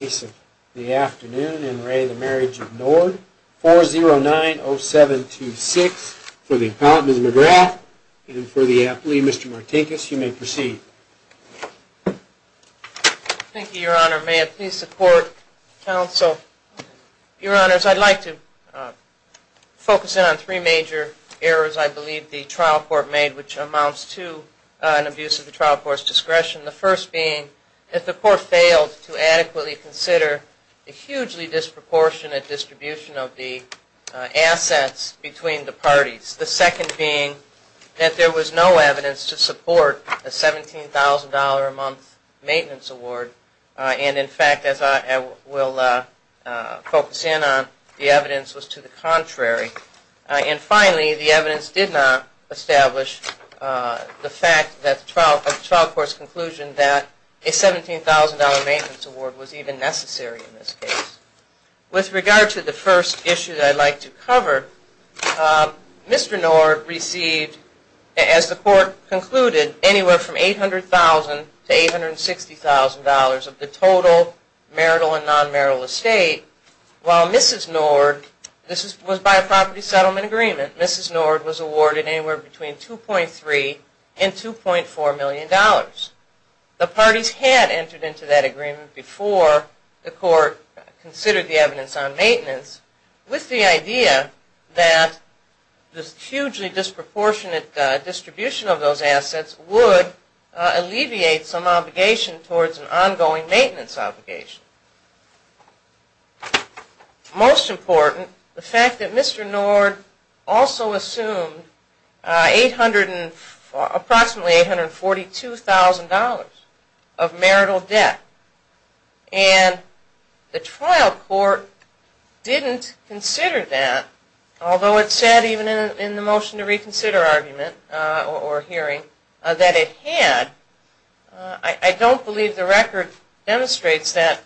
4090726 for the Appellant, Ms. McGrath, and for the Appellee, Mr. Martinkus, you may proceed. Thank you, Your Honor. May it please the Court, Counsel. Your Honors, I'd like to focus in on three major errors I believe the trial court made, which amounts to an abuse of the trial court's discretion. The first being that the Court failed to adequately consider the hugely disproportionate distribution of the assets between the parties. The second being that there was no evidence to support a $17,000 a month maintenance award. And in fact, as I will focus in on, the evidence was to the contrary. And finally, the evidence did not establish the fact of the trial court's conclusion that a $17,000 maintenance award was even necessary in this case. With regard to the first issue that I'd like to cover, Mr. Nord received, as the Court concluded, anywhere from $800,000 to $860,000 of the total marital and non-marital estate. While Mrs. Nord, this was by a property settlement agreement, Mrs. Nord was awarded anywhere between $2.3 and $2.4 million. The parties had entered into that agreement before the Court considered the evidence on maintenance with the idea that this hugely disproportionate distribution of those assets would alleviate some obligation towards an ongoing maintenance obligation. Most important, the fact that Mr. Nord also assumed approximately $842,000 of marital debt. And the trial court didn't consider that, although it said even in the motion to reconsider argument, or hearing, that it had. I don't believe the record demonstrates that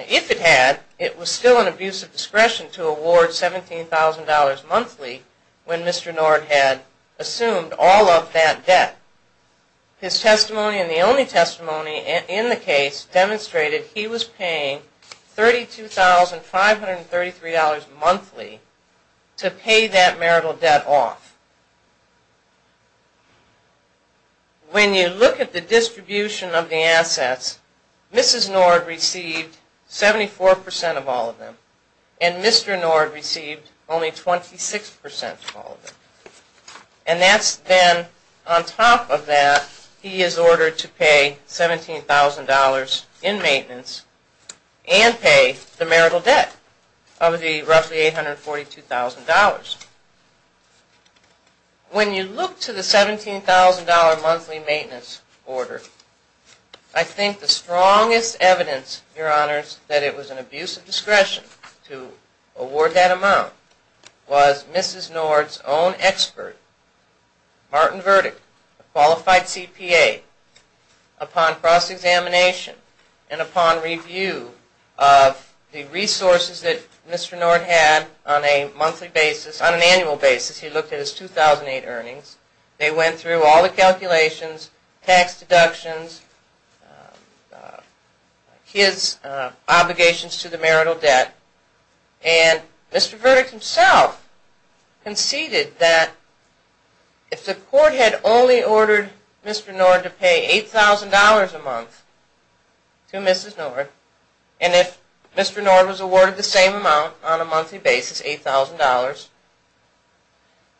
if it had, it was still an abuse of discretion to award $17,000 monthly when Mr. Nord had assumed all of that debt. His testimony, and the only testimony in the case, demonstrated he was paying $32,533 monthly to pay that marital debt off. When you look at the distribution of the assets, Mrs. Nord received 74% of all of them, and Mr. Nord received only 26% of all of them. And that's then, on top of that, he is ordered to pay $17,000 in maintenance and pay the marital debt of the roughly $842,000. When you look to the $17,000 monthly maintenance order, I think the strongest evidence, Your Honors, that it was an abuse of discretion to award that amount was Mrs. Nord's own expert, Martin Verdick, a qualified CPA, upon cross-examination and upon review of the resources that Mr. Nord had on a monthly basis. On an annual basis, he looked at his 2008 earnings. They went through all the calculations, tax deductions, his obligations to the marital debt, and Mr. Verdick himself conceded that if the court had only ordered Mr. Nord to pay $8,000 a month to Mrs. Nord, and if Mr. Nord was awarded the same amount on a monthly basis, $8,000,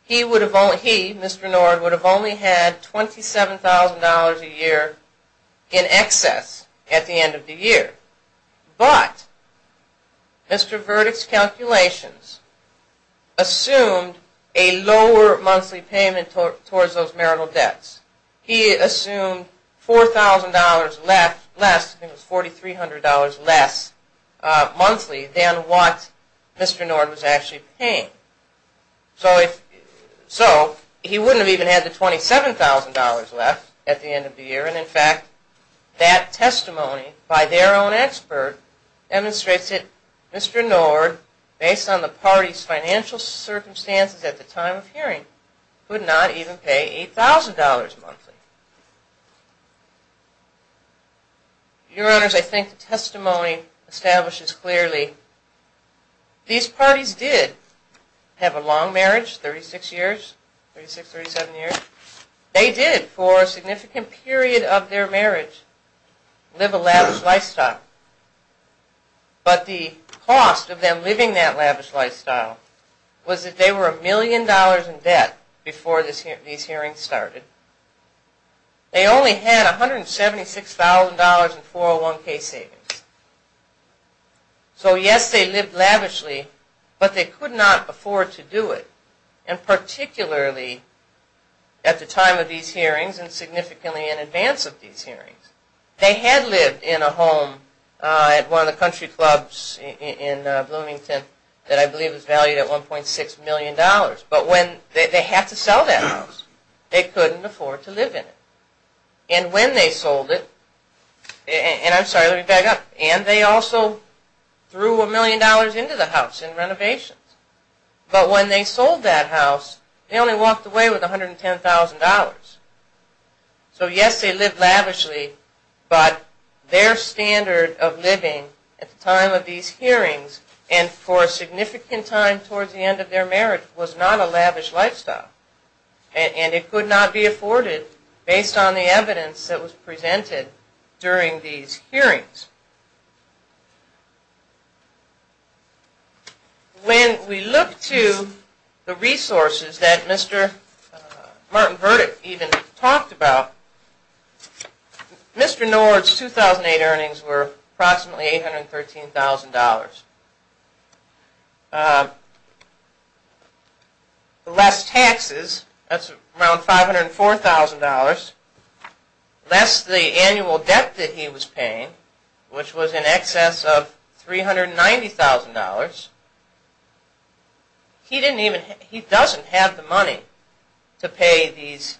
he, Mr. Nord, would have only had $27,000 a year in excess at the end of the year. But Mr. Verdick's calculations assumed a lower monthly payment towards those marital debts. He assumed $4,000 less, I think it was $4,300 less, monthly than what Mr. Nord was actually paying. So he wouldn't have even had the $27,000 left at the end of the year, and in fact, that testimony by their own expert demonstrates that Mr. Nord, based on the party's financial circumstances at the time of hearing, would not even pay $8,000 monthly. Your Honors, I think the testimony establishes clearly these parties did have a long marriage, 36 years, 36, 37 years. They did, for a significant period of their marriage, live a lavish lifestyle. But the cost of them living that lavish lifestyle was that they were a million dollars in debt before these hearings started. They only had $176,000 in 401k savings. So yes, they lived lavishly, but they could not afford to do it. And particularly at the time of these hearings, and significantly in advance of these hearings, they had lived in a home at one of the country clubs in Bloomington that I believe was valued at $1.6 million. But when they had to sell that house, they couldn't afford to live in it. And when they sold it, and I'm sorry, let me back up, and they also threw a million dollars into the house in renovations. But when they sold that house, they only walked away with $110,000. So yes, they lived lavishly, but their standard of living at the time of these hearings, and for a significant time towards the end of their marriage, was not a lavish lifestyle. And it could not be afforded based on the evidence that was presented during these hearings. When we look to the resources that Mr. Martin Burdick even talked about, Mr. Nord's 2008 earnings were approximately $813,000. Less taxes, that's around $504,000. Less the annual debt that he was paying, which was in excess of $390,000. He doesn't have the money to pay these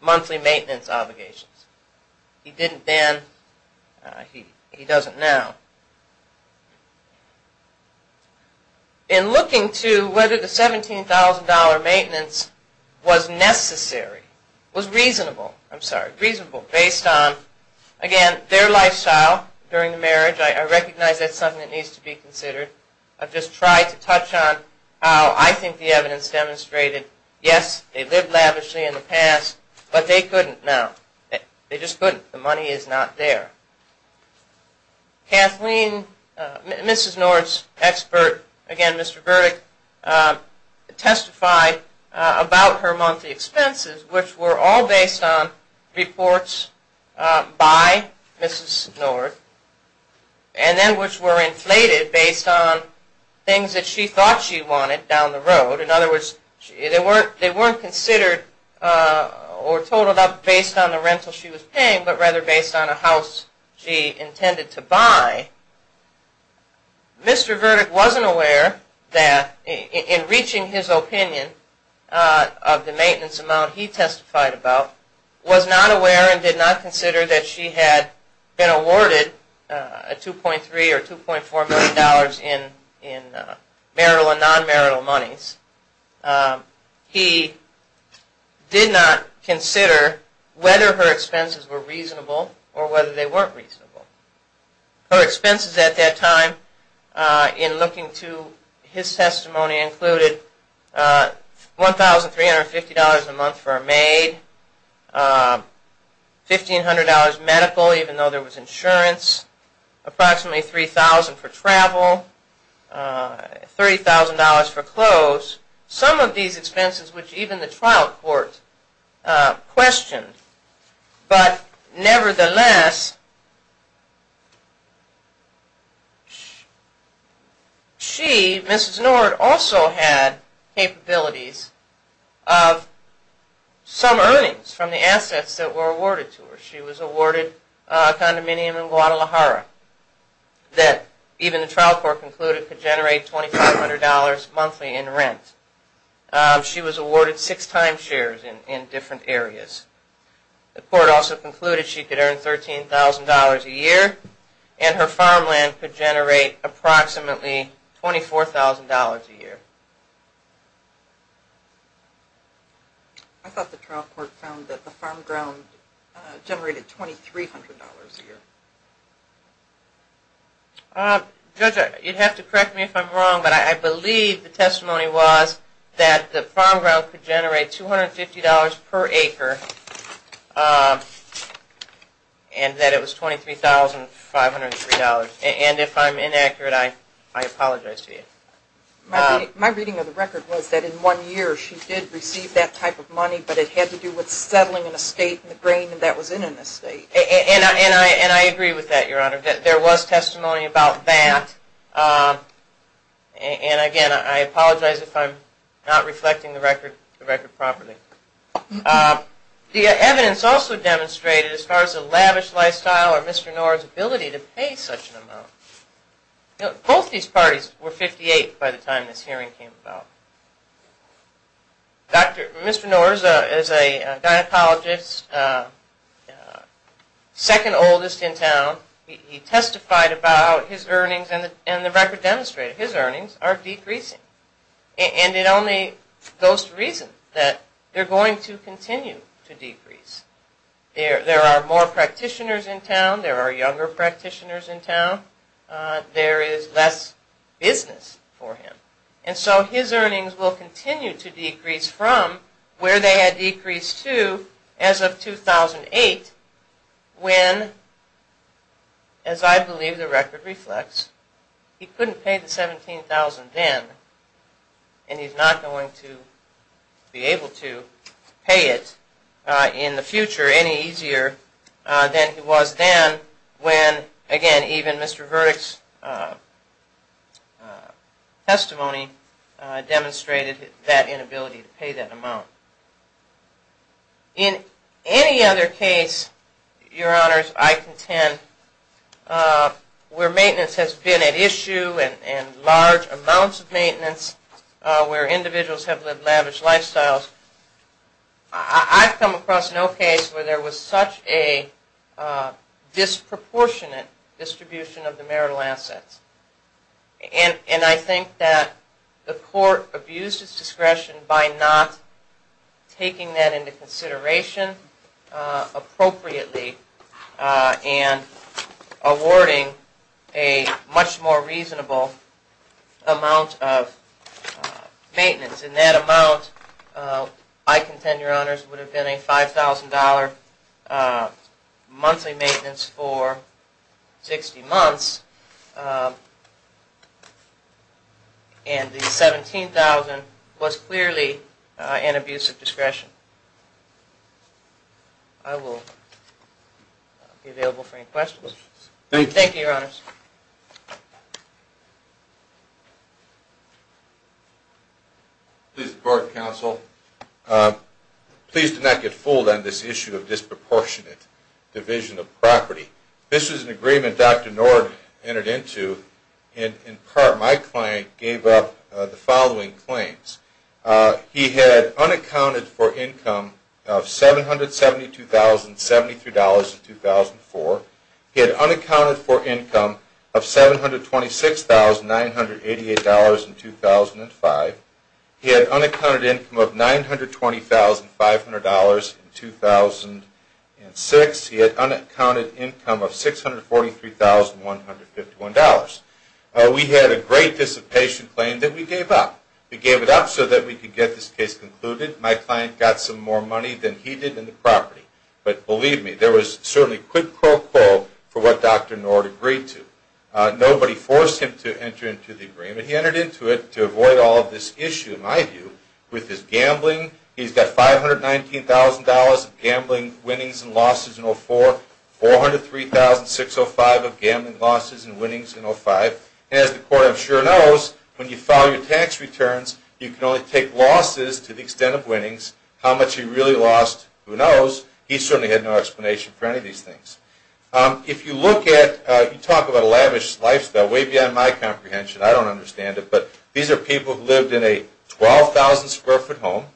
monthly maintenance obligations. He didn't then, he doesn't now. In looking to whether the $17,000 maintenance was necessary, was reasonable, I'm sorry, reasonable based on, again, their lifestyle during the marriage. I recognize that's something that needs to be considered. I've just tried to touch on how I think the evidence demonstrated, yes, they lived lavishly in the past, but they couldn't now. They just couldn't. The money is not there. Kathleen, Mrs. Nord's expert, again, Mr. Burdick, testified about her monthly expenses, which were all based on reports by Mrs. Nord, and then which were inflated based on things that she thought she wanted down the road. In other words, they weren't considered or totaled up based on the rental she was paying, but rather based on a house she intended to buy. Mr. Burdick wasn't aware that, in reaching his opinion of the maintenance amount he testified about, was not aware and did not consider that she had been awarded a $2.3 or $2.4 million in marital and non-marital monies. He did not consider whether her expenses were reasonable or whether they weren't reasonable. Her expenses at that time, in looking to his testimony, included $1,350 a month for a maid, $1,500 medical, even though there was insurance, approximately $3,000 for travel, $30,000 for clothes. Some of these expenses, which even the trial court questioned, but nevertheless, she, Mrs. Nord, also had capabilities of some earnings from the assets that were awarded to her. She was awarded a condominium in Guadalajara that, even the trial court concluded, could generate $2,500 monthly in rent. She was awarded six timeshares in different areas. The court also concluded she could earn $13,000 a year, and her farmland could generate approximately $24,000 a year. I thought the trial court found that the farm ground generated $2,300 a year. Judge, you'd have to correct me if I'm wrong, but I believe the testimony was that the farm ground could generate $250 per acre, and that it was $23,503. And if I'm inaccurate, I apologize to you. My reading of the record was that in one year, she did receive that type of money, but it had to do with settling an estate in the grain that was in an estate. And I agree with that, Your Honor. There was testimony about that. And again, I apologize if I'm not reflecting the record properly. The evidence also demonstrated, as far as the lavish lifestyle or Mr. Knorr's ability to pay such an amount, both these parties were 58 by the time this hearing came about. Mr. Knorr is a gynecologist, second oldest in town. He testified about his earnings, and the record demonstrated his earnings are decreasing. And it only goes to reason that they're going to continue to decrease. There are more practitioners in town. There are younger practitioners in town. There is less business for him. And so his earnings will continue to decrease from where they had decreased to as of 2008, when, as I believe the record reflects, he couldn't pay the $17,000 then. And he's not going to be able to pay it in the future any easier than he was then when, again, even Mr. Verdick's testimony demonstrated that inability to pay that amount. In any other case, Your Honors, I contend, where maintenance has been at issue and large amounts of maintenance, where individuals have lived lavish lifestyles, I've come across no case where there was such a disproportionate distribution of the marital assets. And I think that the court abused its discretion by not taking that into consideration appropriately and awarding a much more reasonable amount of maintenance. And that amount, I contend, Your Honors, would have been a $5,000 monthly maintenance for 60 months, and the $17,000 was clearly an abuse of discretion. I will be available for any questions. Thank you, Your Honors. Please report, counsel. Please do not get fooled on this issue of disproportionate division of property. This was an agreement Dr. Nord entered into, and in part my client gave up the following claims. He had unaccounted for income of $772,073 in 2004. He had unaccounted for income of $726,988 in 2005. He had unaccounted income of $920,500 in 2006. He had unaccounted income of $643,151. We had a great dissipation claim that we gave up. We gave it up so that we could get this case concluded. My client got some more money than he did in the property. But believe me, there was certainly quid pro quo for what Dr. Nord agreed to. Nobody forced him to enter into the agreement. He entered into it to avoid all of this issue, in my view, with his gambling. He's got $519,000 of gambling winnings and losses in 2004, $403,605 of gambling losses and winnings in 2005. And as the court, I'm sure, knows, when you file your tax returns, you can only take losses to the extent of winnings. How much he really lost, who knows? He certainly had no explanation for any of these things. If you look at, you talk about a lavish lifestyle, way beyond my comprehension, I don't understand it, but these are people who lived in a 12,000 square foot home.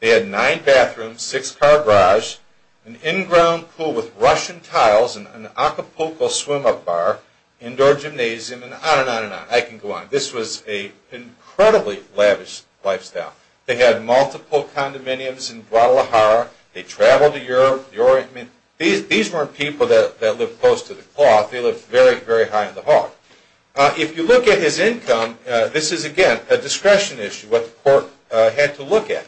They had nine bathrooms, six car garage, an in-ground pool with Russian tiles, an Acapulco swim-up bar, indoor gymnasium, and on and on and on. I can go on. This was an incredibly lavish lifestyle. They had multiple condominiums in Guadalajara. They traveled to Europe. These weren't people that lived close to the cloth. They lived very, very high in the heart. If you look at his income, this is, again, a discretion issue, what the court had to look at.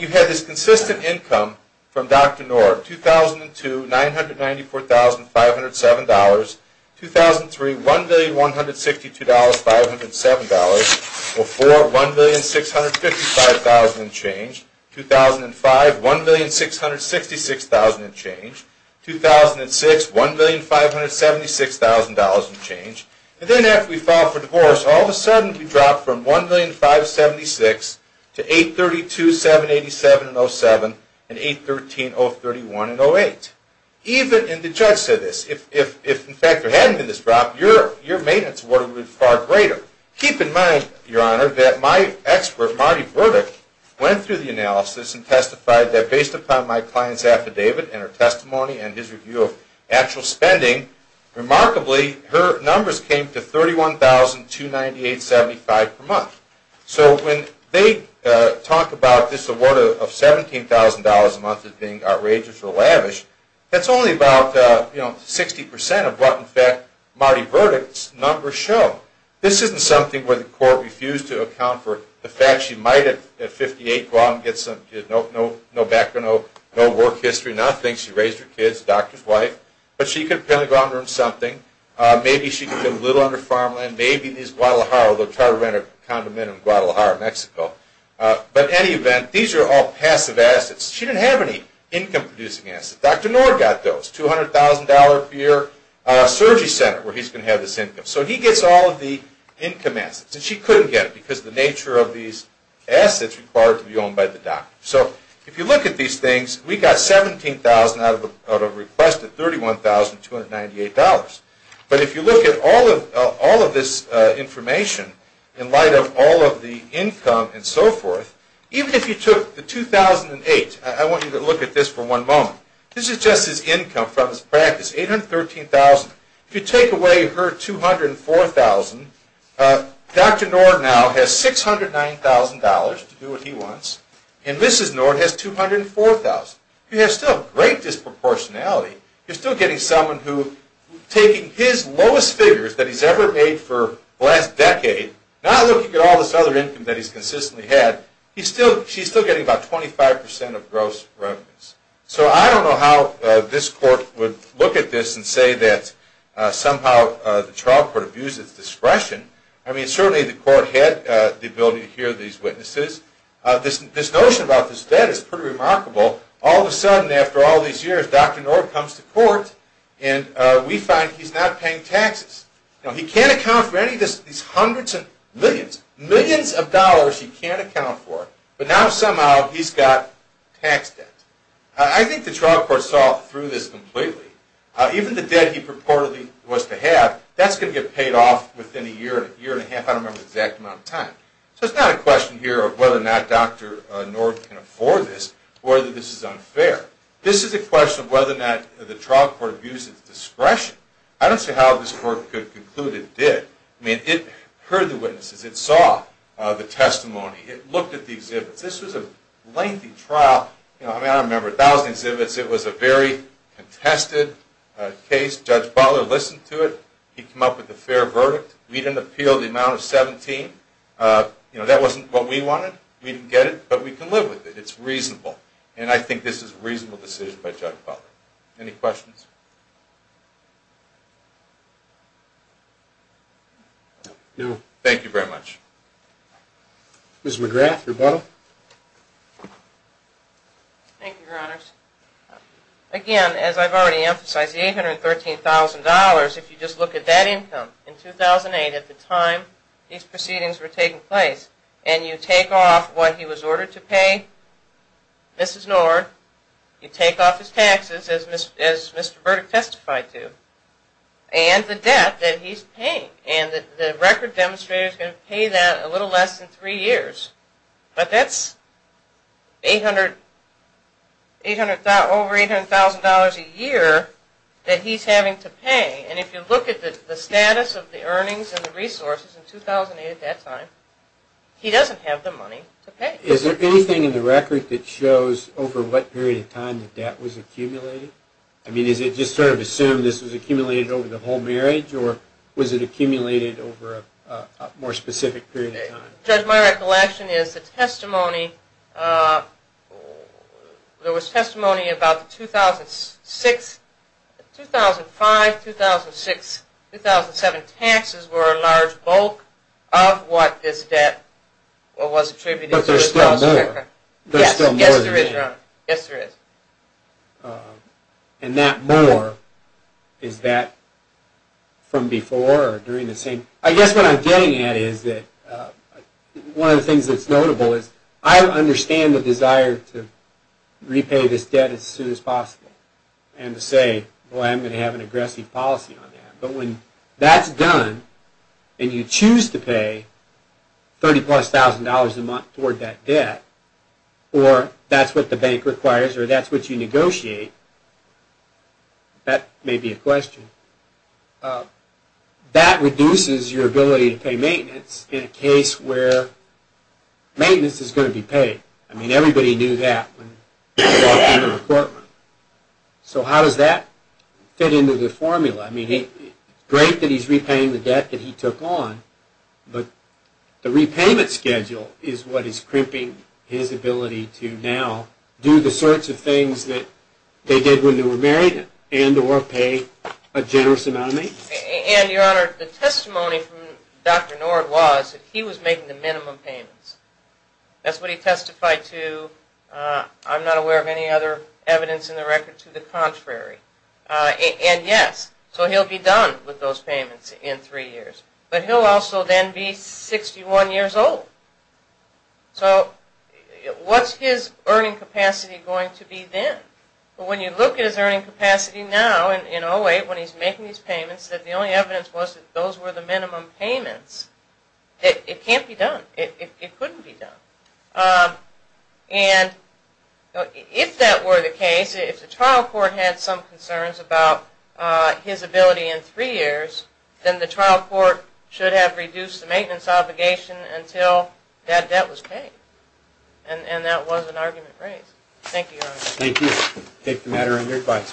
You had this consistent income from Dr. Knorr, 2002 $994,507, 2003 $1,162,507, before $1,655,000 and change, 2005 $1,666,000 and change, 2006 $1,576,000 and change. And then after we filed for divorce, all of a sudden we dropped from $1,576,000 to $832,787,007 and $813,031,008. Even if the judge said this, if in fact there hadn't been this drop, your maintenance would have been far greater. Keep in mind, Your Honor, that my expert, Marty Burdick, went through the analysis and testified that based upon my client's affidavit and her testimony and his review of actual spending, remarkably her numbers came to $31,298.75 per month. So when they talk about this award of $17,000 a month as being outrageous or lavish, that's only about 60% of what, in fact, Marty Burdick's numbers show. This isn't something where the court refused to account for the fact she might have, at 58, go out and get some, no background, no work history, nothing. Maybe she raised her kids, a doctor's wife, but she could apparently go out and earn something. Maybe she could build a little on her farmland. Maybe these Guadalajara, they'll try to rent a condominium in Guadalajara, Mexico. But in any event, these are all passive assets. She didn't have any income-producing assets. Dr. Knorr got those, $200,000 per year surgery center where he's going to have this income. So he gets all of the income assets. And she couldn't get it because of the nature of these assets required to be owned by the doctor. So if you look at these things, we got $17,000 out of a request at $31,298. But if you look at all of this information in light of all of the income and so forth, even if you took the 2008, I want you to look at this for one moment. This is just his income from his practice, $813,000. If you take away her $204,000, Dr. Knorr now has $609,000 to do what he wants. And Mrs. Knorr has $204,000. You have still great disproportionality. You're still getting someone who, taking his lowest figures that he's ever made for the last decade, not looking at all this other income that he's consistently had, she's still getting about 25% of gross revenues. So I don't know how this court would look at this and say that somehow the trial court abused its discretion. I mean, certainly the court had the ability to hear these witnesses. This notion about this debt is pretty remarkable. All of a sudden, after all these years, Dr. Knorr comes to court, and we find he's not paying taxes. He can't account for any of these hundreds of millions, millions of dollars he can't account for. But now somehow he's got tax debt. I think the trial court saw through this completely. Even the debt he purportedly was to have, that's going to get paid off within a year, year and a half, I don't remember the exact amount of time. So it's not a question here of whether or not Dr. Knorr can afford this or that this is unfair. This is a question of whether or not the trial court abused its discretion. I don't see how this court could conclude it did. I mean, it heard the witnesses. It saw the testimony. It looked at the exhibits. This was a lengthy trial. I mean, I remember 1,000 exhibits. It was a very contested case. Judge Butler listened to it. He came up with a fair verdict. We didn't appeal the amount of 17. That wasn't what we wanted. We didn't get it, but we can live with it. It's reasonable. And I think this is a reasonable decision by Judge Butler. Any questions? No. Thank you very much. Ms. McGrath, rebuttal. Thank you, Your Honors. Again, as I've already emphasized, the $813,000, if you just look at that income, in 2008 at the time these proceedings were taking place, and you take off what he was ordered to pay, Mrs. Knorr, you take off his taxes, as Mr. Burdick testified to, and the debt that he's paying. And the record demonstrator is going to pay that a little less than three years. But that's over $800,000 a year that he's having to pay. And if you look at the status of the earnings and the resources in 2008 at that time, he doesn't have the money to pay. Is there anything in the record that shows over what period of time the debt was accumulated? I mean, is it just sort of assumed this was accumulated over the whole marriage, Judge, my recollection is the testimony, there was testimony about the 2005, 2006, 2007 taxes were a large bulk of what is debt, what was attributed to the spouse record. But there's still more. Yes, there is, Your Honor. Yes, there is. And that more, is that from before or during the same? I guess what I'm getting at is that one of the things that's notable is, I understand the desire to repay this debt as soon as possible and to say, well, I'm going to have an aggressive policy on that. But when that's done and you choose to pay $30,000 plus a month toward that debt, or that's what the bank requires or that's what you negotiate, that may be a question. That reduces your ability to pay maintenance in a case where maintenance is going to be paid. I mean, everybody knew that when he walked into the courtroom. So how does that fit into the formula? I mean, it's great that he's repaying the debt that he took on, but the repayment schedule is what is crimping his ability to now do the sorts of things that they did when they were married and or pay a generous amount of money. And, Your Honor, the testimony from Dr. Nord was that he was making the minimum payments. That's what he testified to. I'm not aware of any other evidence in the record to the contrary. And, yes, so he'll be done with those payments in three years. But he'll also then be 61 years old. So what's his earning capacity going to be then? When you look at his earning capacity now in 08 when he's making these payments, the only evidence was that those were the minimum payments. It can't be done. It couldn't be done. And if that were the case, if the trial court had some concerns about his ability in three years, then the trial court should have reduced the maintenance obligation until that debt was paid. And that was an argument raised. Thank you, Your Honor. Thank you. Take the matter under advice.